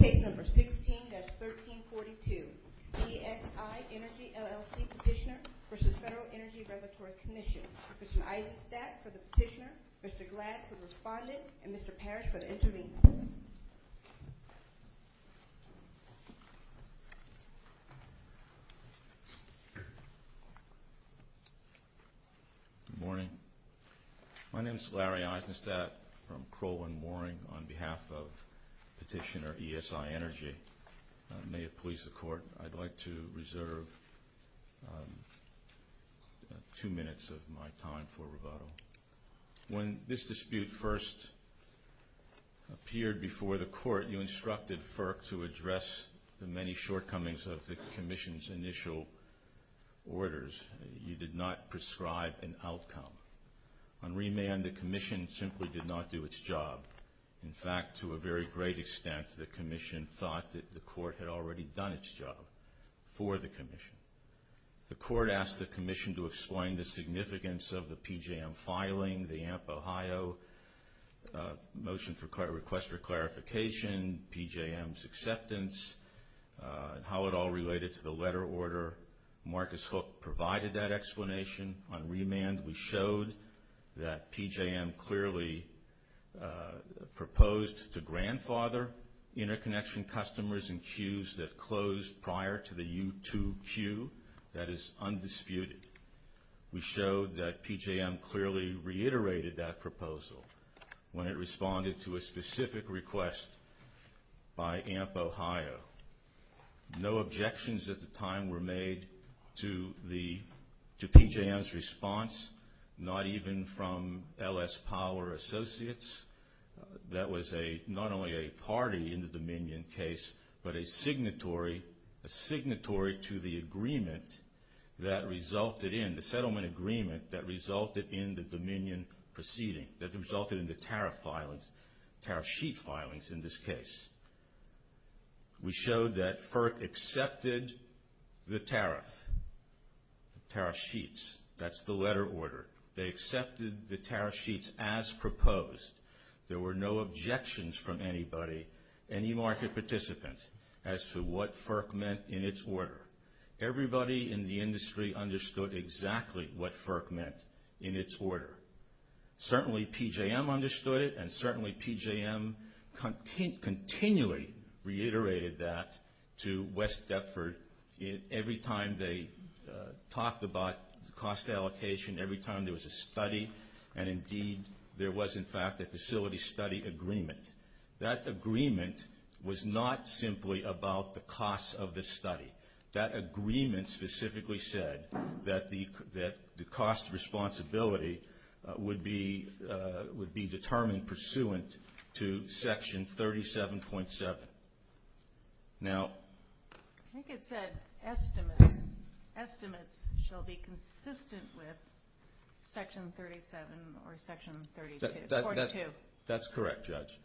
Case number 16-1342, ESI Energy, LLC petitioner v. Federal Energy Regulatory Commission. Professor Eisenstadt for the petitioner, Mr. Gladd for the respondent, and Mr. Parrish for the intervener. Good morning. My name is Larry Eisenstadt from Crowell and Mooring on behalf of petitioner ESI Energy. May it please the Court, I'd like to reserve two minutes of my time for rebuttal. When this dispute first appeared before the Court, you instructed FERC to address the many shortcomings of the Commission's initial orders. You did not prescribe an outcome. On remand, the Commission simply did not do its job. In fact, to a very great extent, the Commission thought that the Court had already done its job for the Commission. The Court asked the Commission to explain the significance of the PJM filing, the AMP Ohio motion for request for clarification, PJM's acceptance, and how it all related to the letter order. Marcus Hook provided that explanation. On remand, we showed that PJM clearly proposed to grandfather interconnection customers in queues that closed prior to the U2 queue. That is undisputed. We showed that PJM clearly reiterated that proposal when it responded to a specific request by AMP Ohio. No objections at the time were made to PJM's response, not even from LS Power Associates. That was not only a party in the Dominion case, but a signatory to the settlement agreement that resulted in the Dominion proceeding, that resulted in the tariff sheet filings in this case. We showed that FERC accepted the tariff sheets. That's the letter order. They accepted the tariff sheets as proposed. There were no objections from anybody, any market participant, as to what FERC meant in its order. Everybody in the industry understood exactly what FERC meant in its order. Certainly PJM understood it, and certainly PJM continually reiterated that to West Deptford every time they talked about cost allocation, every time there was a study, and indeed there was in fact a facility study agreement. That agreement was not simply about the cost of the study. That agreement specifically said that the cost responsibility would be determined pursuant to section 37.7. Now... I think it said estimates. Estimates shall be consistent with section 37 or section 42. That's correct, Judge.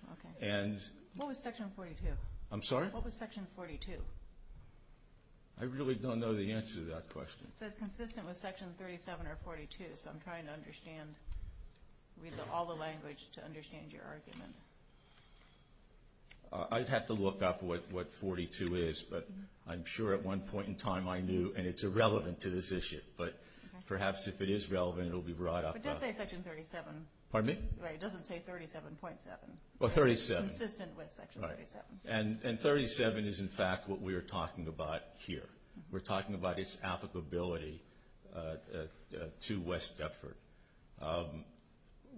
What was section 42? I'm sorry? What was section 42? I really don't know the answer to that question. It says consistent with section 37 or 42, so I'm trying to read all the language to understand your argument. I'd have to look up what 42 is, but I'm sure at one point in time I knew, and it's irrelevant to this issue. But perhaps if it is relevant, it will be brought up. It does say section 37. Pardon me? It doesn't say 37.7. Well, 37. Consistent with section 37. And 37 is in fact what we are talking about here. We're talking about its applicability to West Deptford.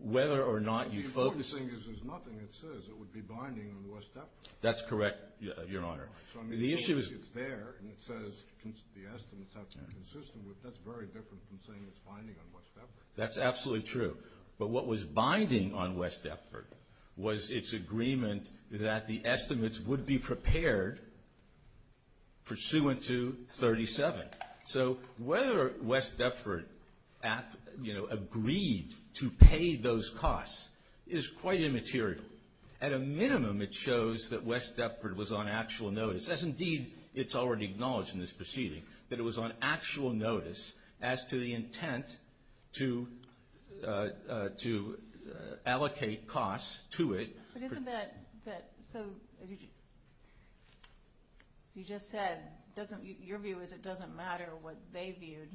Whether or not you focus... The important thing is there's nothing that says it would be binding on West Deptford. That's correct, Your Honor. So I mean, it's there, and it says the estimates have to be consistent with it. That's very different from saying it's binding on West Deptford. That's absolutely true. But what was binding on West Deptford was its agreement that the estimates would be prepared pursuant to 37. So whether West Deptford, you know, agreed to pay those costs is quite immaterial. At a minimum, it shows that West Deptford was on actual notice. It says indeed it's already acknowledged in this proceeding that it was on actual notice as to the intent to allocate costs to it. But isn't that so, as you just said, your view is it doesn't matter what they viewed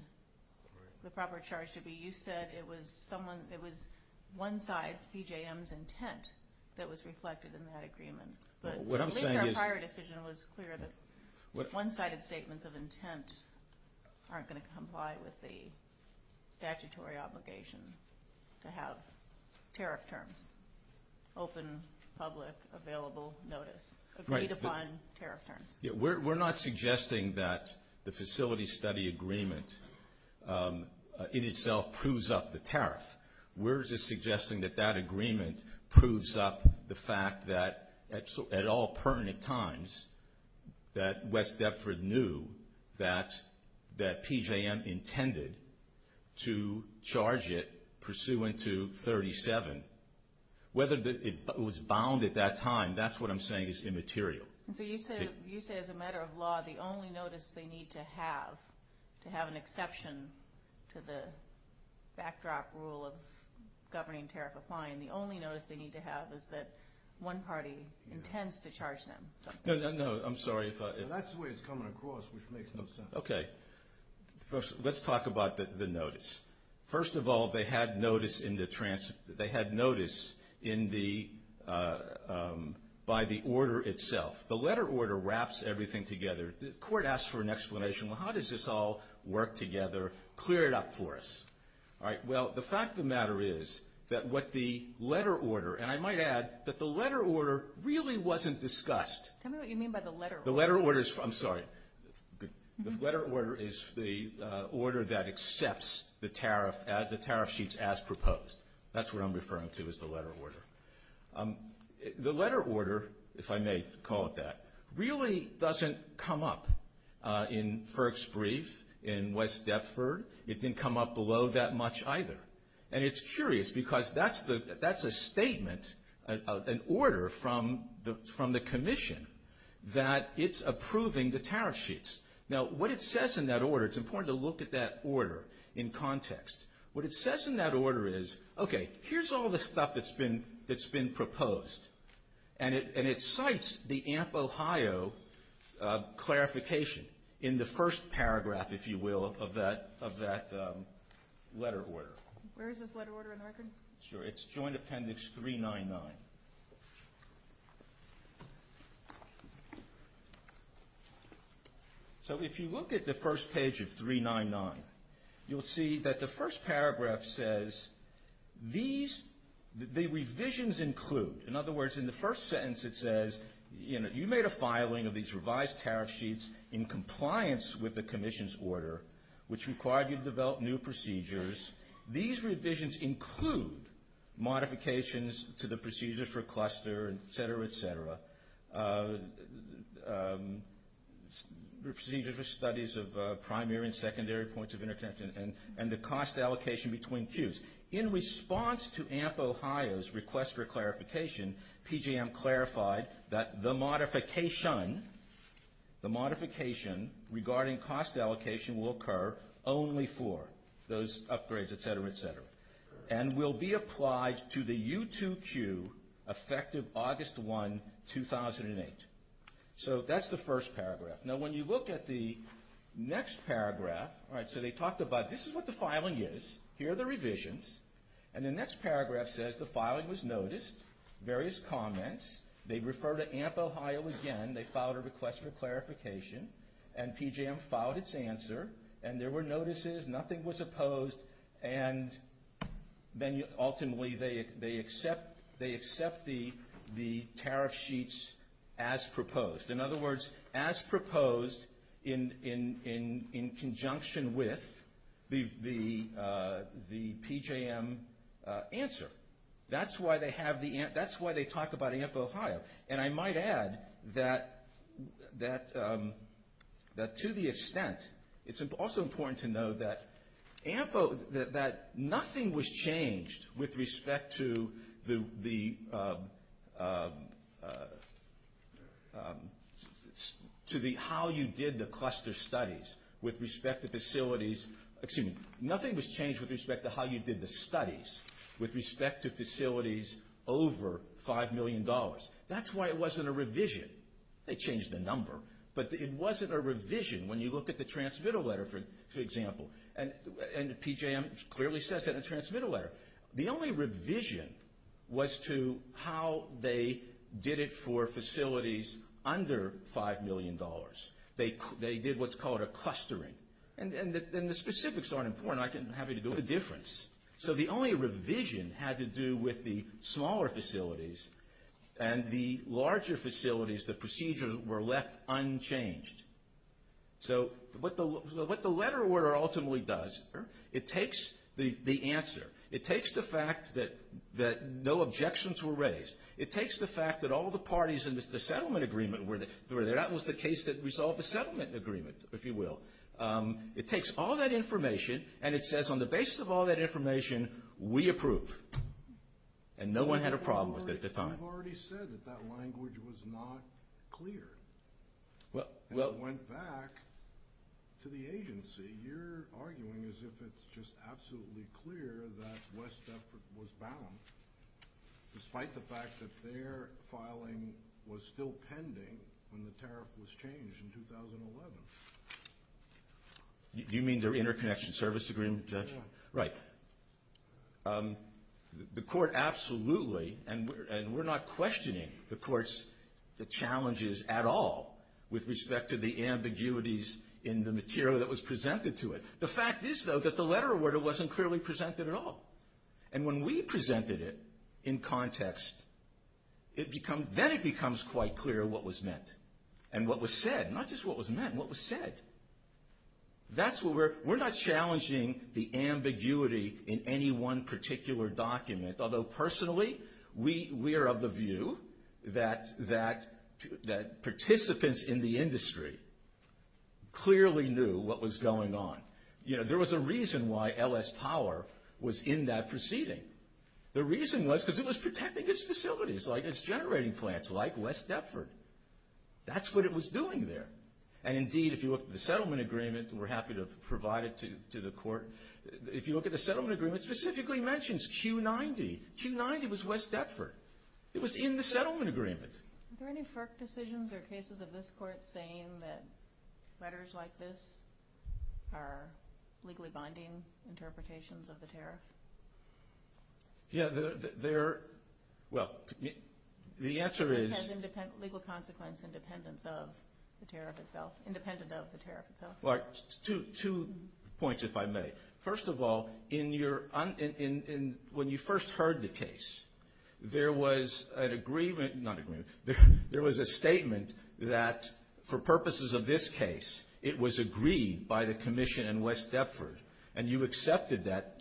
the proper charge to be. You said it was one side's, BJM's, intent that was reflected in that agreement. At least our prior decision was clear that one-sided statements of intent aren't going to comply with the statutory obligation to have tariff terms, open, public, available notice, agreed upon tariff terms. We're not suggesting that the facility study agreement in itself proves up the tariff. We're just suggesting that that agreement proves up the fact that at all pertinent times, that West Deptford knew that BJM intended to charge it pursuant to 37. Whether it was bound at that time, that's what I'm saying is immaterial. So you say as a matter of law, the only notice they need to have to have an exception to the backdrop rule of governing tariff applying, the only notice they need to have is that one party intends to charge them. No, I'm sorry. That's the way it's coming across, which makes no sense. Okay. First, let's talk about the notice. First of all, they had notice by the order itself. The letter order wraps everything together. The court asks for an explanation. Well, how does this all work together, clear it up for us? All right. Well, the fact of the matter is that what the letter order, and I might add that the letter order really wasn't discussed. Tell me what you mean by the letter order. The letter order is, I'm sorry. The letter order is the order that accepts the tariff sheets as proposed. That's what I'm referring to as the letter order. The letter order, if I may call it that, really doesn't come up in Ferg's brief in West Deptford. It didn't come up below that much either. And it's curious because that's a statement, an order from the commission that it's approving the tariff sheets. Now, what it says in that order, it's important to look at that order in context. What it says in that order is, okay, here's all the stuff that's been proposed. And it cites the AMP Ohio clarification in the first paragraph, if you will, of that letter order. Where is this letter order in the record? Sure. It's Joint Appendix 399. So if you look at the first page of 399, you'll see that the first paragraph says, the revisions include, in other words, in the first sentence it says, you made a filing of these revised tariff sheets in compliance with the commission's order, which required you to develop new procedures. These revisions include modifications to the procedures for cluster, et cetera, et cetera, procedures for studies of primary and secondary points of interconnection, and the cost allocation between queues. In response to AMP Ohio's request for clarification, PJM clarified that the modification regarding cost allocation will occur only for those upgrades, et cetera, et cetera, and will be applied to the U2 queue effective August 1, 2008. So that's the first paragraph. Now, when you look at the next paragraph, all right, so they talked about this is what the filing is. Here are the revisions. And the next paragraph says the filing was noticed, various comments. They refer to AMP Ohio again. They filed a request for clarification. And PJM filed its answer. And there were notices. Nothing was opposed. And then ultimately they accept the tariff sheets as proposed. In other words, as proposed in conjunction with the PJM answer. That's why they talk about AMP Ohio. And I might add that to the extent, it's also important to know that nothing was changed with respect to the how you did the cluster studies with respect to facilities. Nothing was changed with respect to how you did the studies with respect to facilities over $5 million. That's why it wasn't a revision. They changed the number. But it wasn't a revision when you look at the transmittal letter, for example. And PJM clearly says that in the transmittal letter. The only revision was to how they did it for facilities under $5 million. They did what's called a clustering. And the specifics aren't important. I'm happy to do the difference. So the only revision had to do with the smaller facilities. And the larger facilities, the procedures were left unchanged. So what the letter order ultimately does, it takes the answer. It takes the fact that no objections were raised. It takes the fact that all the parties in the settlement agreement were there. That was the case that resolved the settlement agreement, if you will. It takes all that information, and it says on the basis of all that information, we approve. And no one had a problem with it at the time. You've already said that that language was not clear. And it went back to the agency. You're arguing as if it's just absolutely clear that West Duffer was bound, despite the fact that their filing was still pending when the tariff was changed in 2011. Do you mean their interconnection service agreement, Judge? Right. The court absolutely, and we're not questioning the court's challenges at all with respect to the ambiguities in the material that was presented to it. The fact is, though, that the letter order wasn't clearly presented at all. And when we presented it in context, then it becomes quite clear what was meant and what was said. Not just what was meant, what was said. We're not challenging the ambiguity in any one particular document, although personally we are of the view that participants in the industry clearly knew what was going on. You know, there was a reason why LS Power was in that proceeding. The reason was because it was protecting its facilities, like its generating plants, like West Duffer. That's what it was doing there. And indeed, if you look at the settlement agreement, and we're happy to provide it to the court, if you look at the settlement agreement, it specifically mentions Q90. Q90 was West Duffer. It was in the settlement agreement. Are there any FERC decisions or cases of this court saying that letters like this are legally binding interpretations of the tariff? Yeah, there are. Well, the answer is... This has legal consequence independent of the tariff itself. Independent of the tariff itself. Two points, if I may. First of all, when you first heard the case, there was an agreement... Not agreement. There was a statement that for purposes of this case, it was agreed by the commission in West Duffer, and you accepted that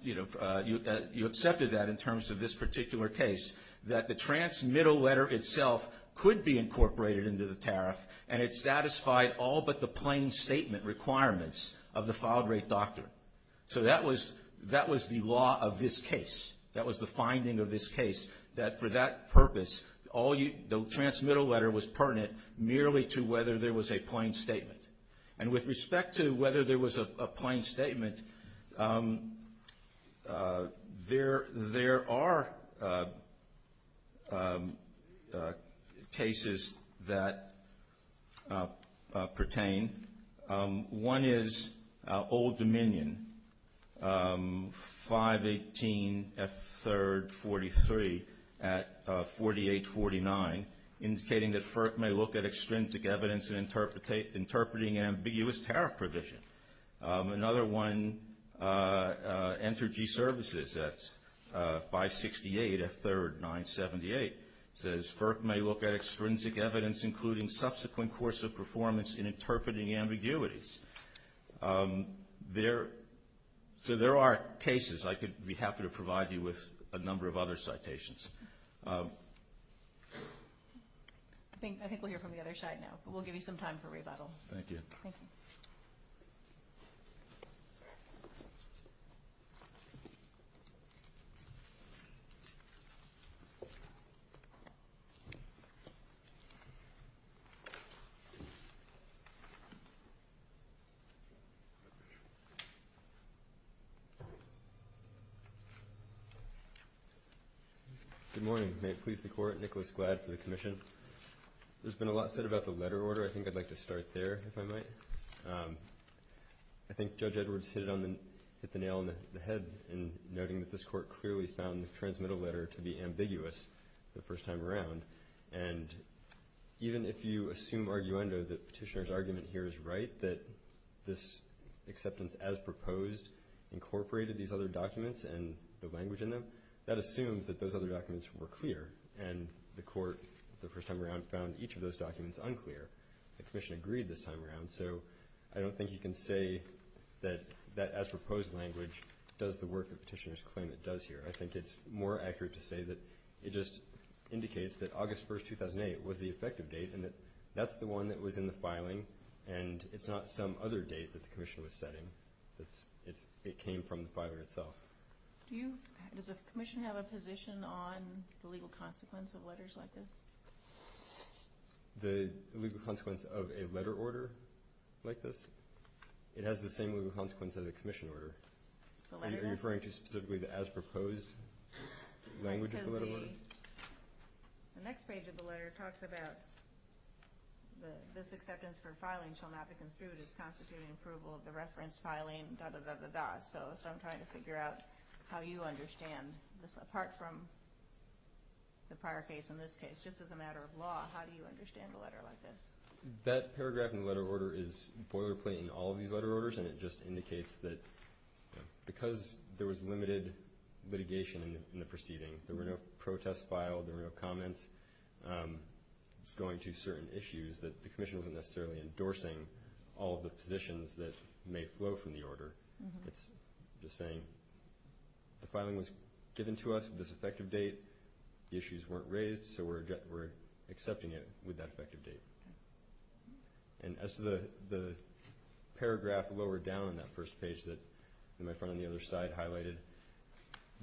in terms of this particular case, that the transmittal letter itself could be incorporated into the tariff, and it satisfied all but the plain statement requirements of the filed rate doctrine. So that was the law of this case. That was the finding of this case, that for that purpose, the transmittal letter was pertinent merely to whether there was a plain statement. And with respect to whether there was a plain statement, there are cases that pertain. One is Old Dominion, 518F343 at 4849, indicating that FERC may look at extrinsic evidence in interpreting ambiguous tariff provision. Another one, Entergy Services at 568F3978, says FERC may look at extrinsic evidence including subsequent course of performance in interpreting ambiguities. So there are cases. I could be happy to provide you with a number of other citations. I think we'll hear from the other side now, but we'll give you some time for rebuttal. Thank you. Good morning. May it please the Court, Nicholas Gladd for the Commission. There's been a lot said about the letter order. I think I'd like to start there, if I might. I think Judge Edwards hit the nail on the head in noting that this Court clearly found the transmittal letter to be ambiguous the first time around. And even if you assume arguendo that Petitioner's argument here is right, that this acceptance as proposed incorporated these other documents and the language in them, that assumes that those other documents were clear, and the Court the first time around found each of those documents unclear. The Commission agreed this time around, so I don't think you can say that that as proposed language does the work that Petitioner's claim it does here. I think it's more accurate to say that it just indicates that August 1, 2008 was the effective date and that that's the one that was in the filing, and it's not some other date that the Commission was setting. It came from the filing itself. Does the Commission have a position on the legal consequence of letters like this? The legal consequence of a letter order like this? It has the same legal consequence as a Commission order. Are you referring to specifically the as proposed language of the letter order? Because the next page of the letter talks about this acceptance for filing shall not be construed as constituting approval of the reference filing, da-da-da-da-da. So I'm trying to figure out how you understand this, apart from the prior case in this case. Just as a matter of law, how do you understand a letter like this? That paragraph in the letter order is boilerplate in all of these letter orders, and it just indicates that because there was limited litigation in the proceeding, there were no protests filed, there were no comments going to certain issues, that the Commission wasn't necessarily endorsing all of the positions that may flow from the order. It's just saying the filing was given to us with this effective date. The issues weren't raised, so we're accepting it with that effective date. And as to the paragraph lower down on that first page that my friend on the other side highlighted,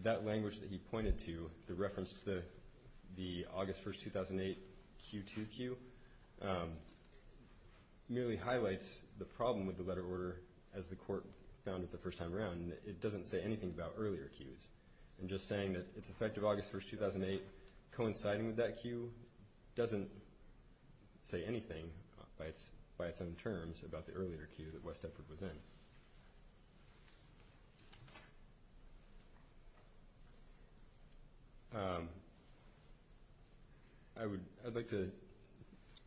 that language that he pointed to, the reference to the August 1, 2008 Q2 cue, merely highlights the problem with the letter order as the Court found it the first time around. It doesn't say anything about earlier cues. I'm just saying that it's effective August 1, 2008 coinciding with that cue doesn't say anything, by its own terms, about the earlier cue that West Eppard was in. I would like to...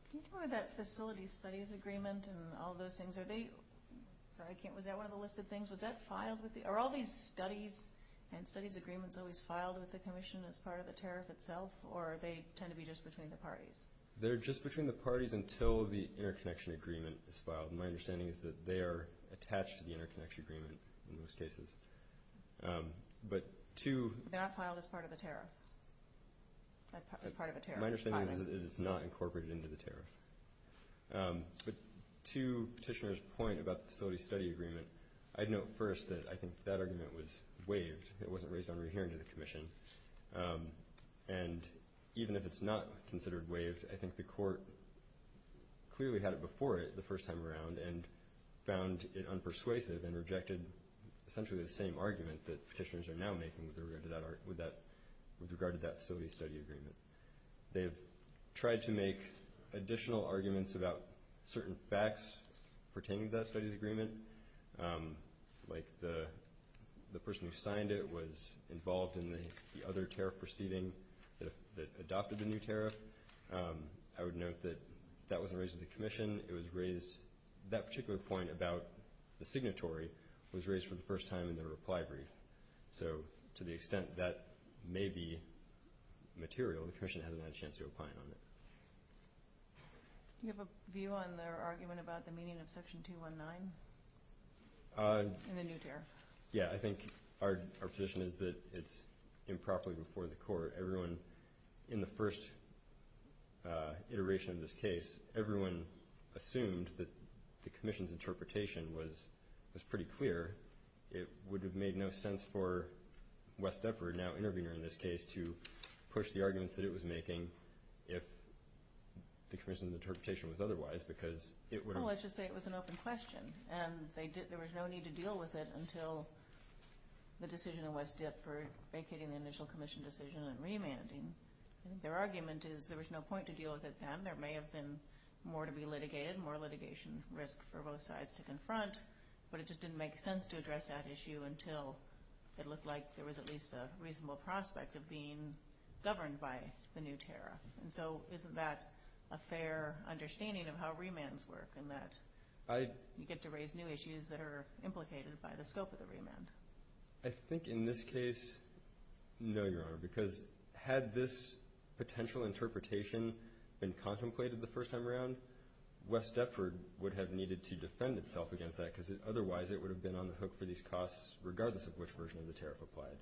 Can you talk about that facility studies agreement and all those things? Are they, sorry, was that one of the listed things? Was that filed with the... Are all these studies and studies agreements always filed with the Commission as part of the tariff itself, or they tend to be just between the parties? They're just between the parties until the interconnection agreement is filed. My understanding is that they are attached to the interconnection agreement in most cases. But to... They're not filed as part of the tariff? As part of the tariff? My understanding is that it's not incorporated into the tariff. But to Petitioner's point about the facility study agreement, I'd note first that I think that argument was waived. It wasn't raised on re-hearing to the Commission. And even if it's not considered waived, I think the Court clearly had it before it the first time around and found it unpersuasive and rejected essentially the same argument that Petitioners are now making with regard to that facility study agreement. They've tried to make additional arguments about certain facts pertaining to that study agreement, like the person who signed it was involved in the other tariff proceeding that adopted the new tariff. I would note that that wasn't raised to the Commission. It was raised... That particular point about the signatory was raised for the first time in the reply brief. So to the extent that may be material, the Commission hasn't had a chance to opine on it. Do you have a view on their argument about the meaning of Section 219 in the new tariff? Yeah, I think our position is that it's improperly before the Court. Everyone in the first iteration of this case, everyone assumed that the Commission's interpretation was pretty clear. It would have made no sense for Wes Depard, now intervener in this case, to push the arguments that it was making if the Commission's interpretation was otherwise because it would have... Well, let's just say it was an open question, and there was no need to deal with it until the decision of Wes Depard vacating the initial Commission decision and remanding. Their argument is there was no point to deal with it then. There may have been more to be litigated, more litigation risk for both sides to confront, but it just didn't make sense to address that issue until it looked like there was at least a reasonable prospect of being governed by the new tariff. And so isn't that a fair understanding of how remands work, in that you get to raise new issues that are implicated by the scope of the remand? I think in this case, no, Your Honor, because had this potential interpretation been contemplated the first time around, Wes Depard would have needed to defend itself against that because otherwise it would have been on the hook for these costs, regardless of which version of the tariff applied.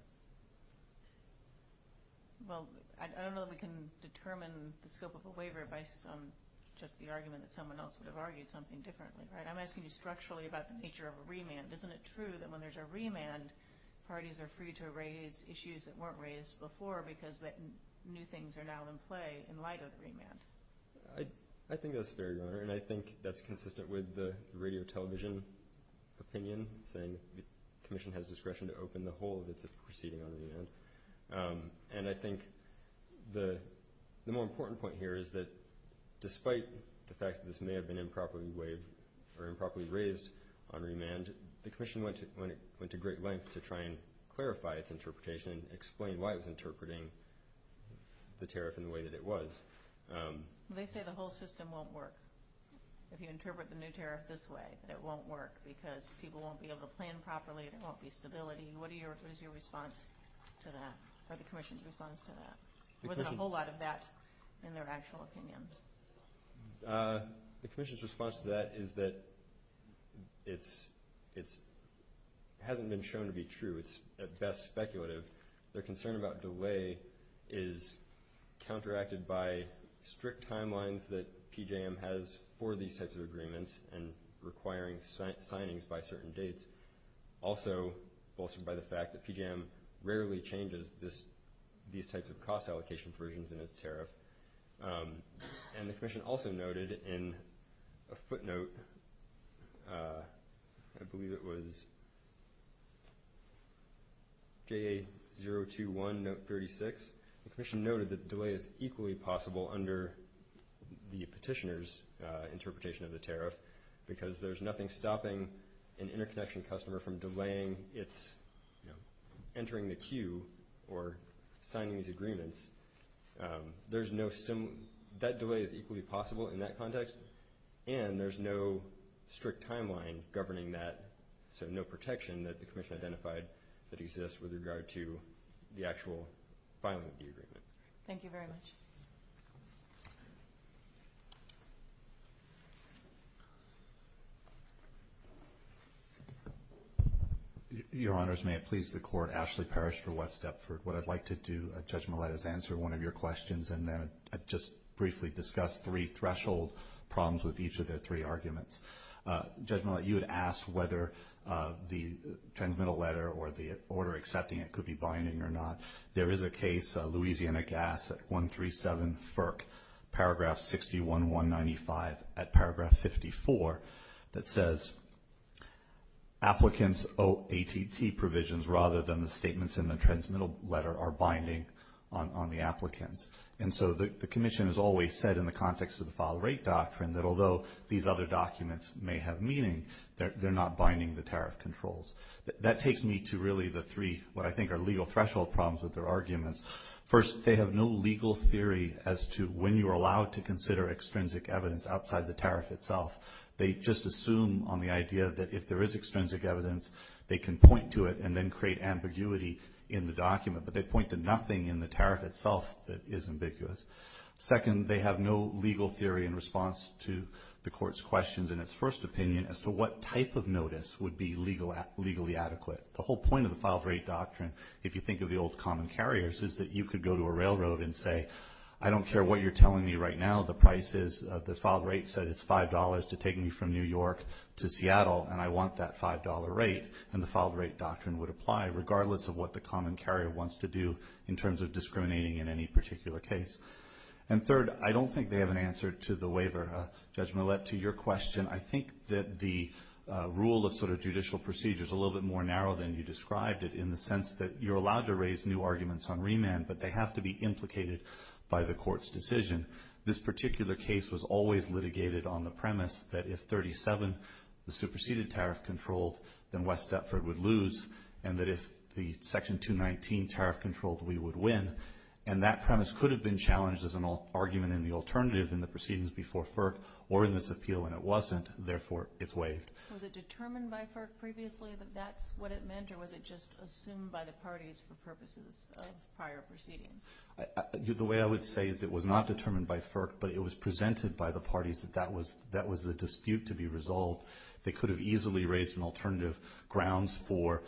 Well, I don't know that we can determine the scope of a waiver by just the argument that someone else would have argued something differently, right? I'm asking you structurally about the nature of a remand. Isn't it true that when there's a remand, parties are free to raise issues that weren't raised before because new things are now in play in light of the remand? I think that's fair, Your Honor, and I think that's consistent with the radio television opinion saying the Commission has discretion to open the hole that's proceeding on a remand. And I think the more important point here is that despite the fact that this may have been improperly raised on remand, the Commission went to great lengths to try and clarify its interpretation and explain why it was interpreting the tariff in the way that it was. They say the whole system won't work if you interpret the new tariff this way, that it won't work because people won't be able to plan properly, there won't be stability. What is your response to that, or the Commission's response to that? There wasn't a whole lot of that in their actual opinion. The Commission's response to that is that it hasn't been shown to be true. It's at best speculative. Their concern about delay is counteracted by strict timelines that PJM has for these types of agreements and requiring signings by certain dates, also bolstered by the fact that PJM rarely changes these types of cost allocation provisions in its tariff. And the Commission also noted in a footnote, I believe it was JA021, note 36, the Commission noted that delay is equally possible under the petitioner's interpretation of the tariff because there's nothing stopping an interconnection customer from delaying its entering the queue or signing these agreements. That delay is equally possible in that context, and there's no strict timeline governing that, so no protection that the Commission identified that exists with regard to the actual filing of the agreement. Thank you very much. Your Honors, may it please the Court. Ashley Parrish for West Deptford. What I'd like to do, Judge Millett, is answer one of your questions, and then I'd just briefly discuss three threshold problems with each of the three arguments. Judge Millett, you had asked whether the transmittal letter or the order accepting it could be binding or not. There is a case, Louisiana Gas at 137 FERC, Paragraph 61-195 at Paragraph 54, that says applicants owe ATT provisions rather than the statements in the transmittal letter are binding on the applicants. And so the Commission has always said in the context of the file rate doctrine that although these other documents may have meaning, they're not binding the tariff controls. That takes me to really the three what I think are legal threshold problems with their arguments. First, they have no legal theory as to when you are allowed to consider extrinsic evidence outside the tariff itself. They just assume on the idea that if there is extrinsic evidence, they can point to it and then create ambiguity in the document, but they point to nothing in the tariff itself that is ambiguous. Second, they have no legal theory in response to the Court's questions in its first opinion as to what type of notice would be legally adequate. The whole point of the file rate doctrine, if you think of the old common carriers, is that you could go to a railroad and say, I don't care what you're telling me right now, the price is, the file rate said it's $5 to take me from New York to Seattle, and I want that $5 rate, and the file rate doctrine would apply, regardless of what the common carrier wants to do in terms of discriminating in any particular case. And third, I don't think they have an answer to the waiver. Judge Millett, to your question, I think that the rule of sort of judicial procedure is a little bit more narrow than you described it in the sense that you're allowed to raise new arguments on remand, but they have to be implicated by the Court's decision. This particular case was always litigated on the premise that if 37, the superseded tariff controlled, then West Dufford would lose, and that if the Section 219 tariff controlled, we would win. And that premise could have been challenged as an argument in the alternative in the proceedings before FERC or in this appeal, and it wasn't. Therefore, it's waived. Was it determined by FERC previously that that's what it meant, or was it just assumed by the parties for purposes of prior proceedings? The way I would say is it was not determined by FERC, but it was presented by the parties that that was the dispute to be resolved. They could have easily raised an alternative grounds for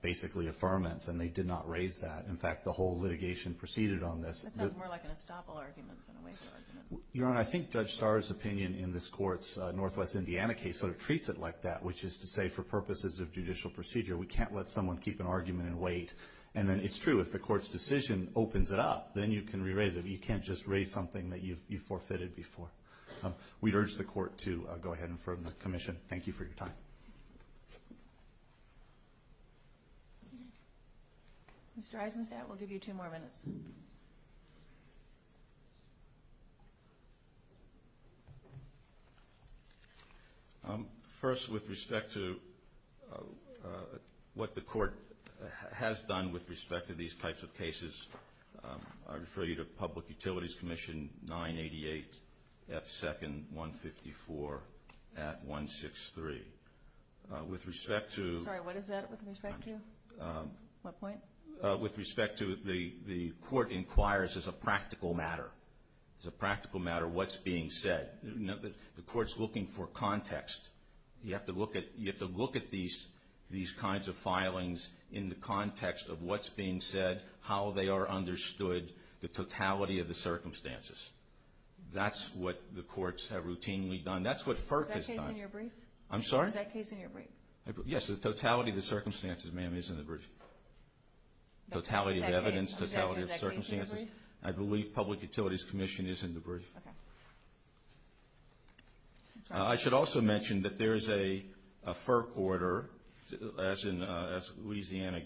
basically affirmance, and they did not raise that. In fact, the whole litigation proceeded on this. That sounds more like an estoppel argument than a waiver argument. Your Honor, I think Judge Starr's opinion in this Court's Northwest Indiana case sort of treats it like that, which is to say for purposes of judicial procedure, we can't let someone keep an argument and wait. And then it's true, if the Court's decision opens it up, then you can re-raise it. You can't just raise something that you forfeited before. We'd urge the Court to go ahead and affirm the commission. Thank you for your time. Thank you. Mr. Eisenstat, we'll give you two more minutes. First, with respect to what the Court has done with respect to these types of cases, I refer you to Public Utilities Commission 988 F. 2nd 154 at 163. With respect to the Court inquires as a practical matter what's being said. The Court's looking for context. You have to look at these kinds of filings in the context of what's being said, how they are understood, the totality of the circumstances. That's what the Courts have routinely done. That's what FERC has done. Is that case in your brief? I'm sorry? Is that case in your brief? Yes, the totality of the circumstances, ma'am, is in the brief. Totality of evidence, totality of circumstances. I believe Public Utilities Commission is in the brief. Okay. I should also mention that there is a FERC order, as in Louisiana.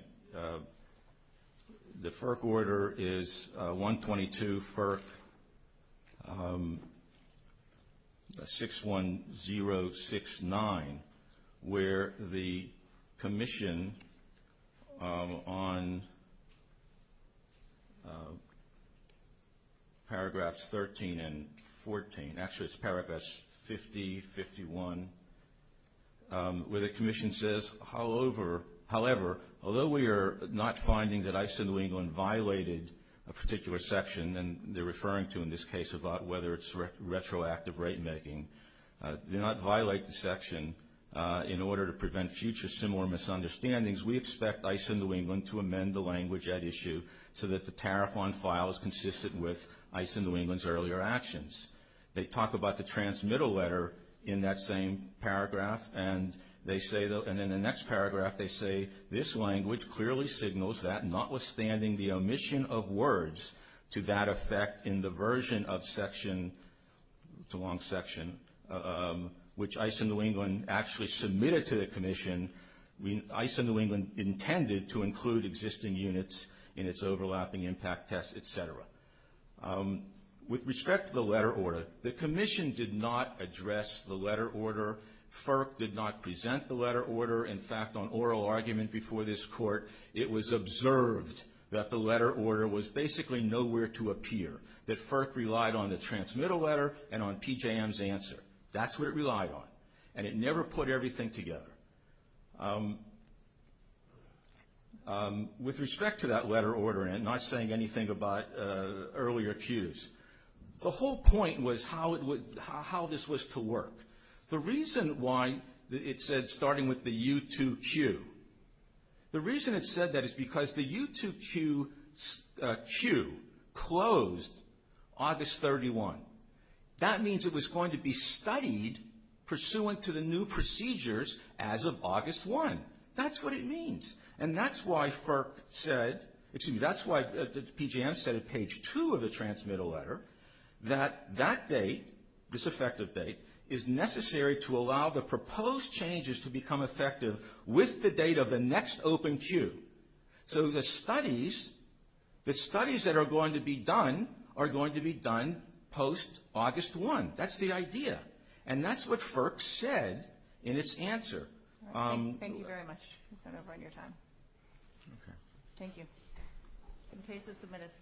The FERC order is 122 FERC 61069, where the commission on paragraphs 13 and 14, actually it's paragraphs 50, 51, where the commission says, however, although we are not finding that ICE in New England violated a particular section, and they're referring to in this case about whether it's retroactive rate making, do not violate the section in order to prevent future similar misunderstandings. We expect ICE in New England to amend the language at issue so that the tariff on file is consistent with ICE in New England's earlier actions. They talk about the transmittal letter in that same paragraph, and in the next paragraph they say, this language clearly signals that notwithstanding the omission of words to that effect in the version of section, it's a long section, which ICE in New England actually submitted to the commission, ICE in New England intended to include existing units in its overlapping impact tests, et cetera. With respect to the letter order, the commission did not address the letter order. FERC did not present the letter order. In fact, on oral argument before this court, it was observed that the letter order was basically nowhere to appear, that FERC relied on the transmittal letter and on PJM's answer. That's what it relied on, and it never put everything together. With respect to that letter order, and not saying anything about earlier cues, the whole point was how this was to work. The reason why it said starting with the U2Q, the reason it said that is because the U2Q cue closed August 31. That means it was going to be studied pursuant to the new procedures as of August 1. That's what it means, and that's why FERC said, excuse me, that's why PJM said at page 2 of the transmittal letter, that that date, this effective date, is necessary to allow the proposed changes to become effective with the date of the next open cue. So the studies that are going to be done are going to be done post-August 1. That's the idea, and that's what FERC said in its answer. Thank you very much. I don't know if I have your time. Okay. Thank you.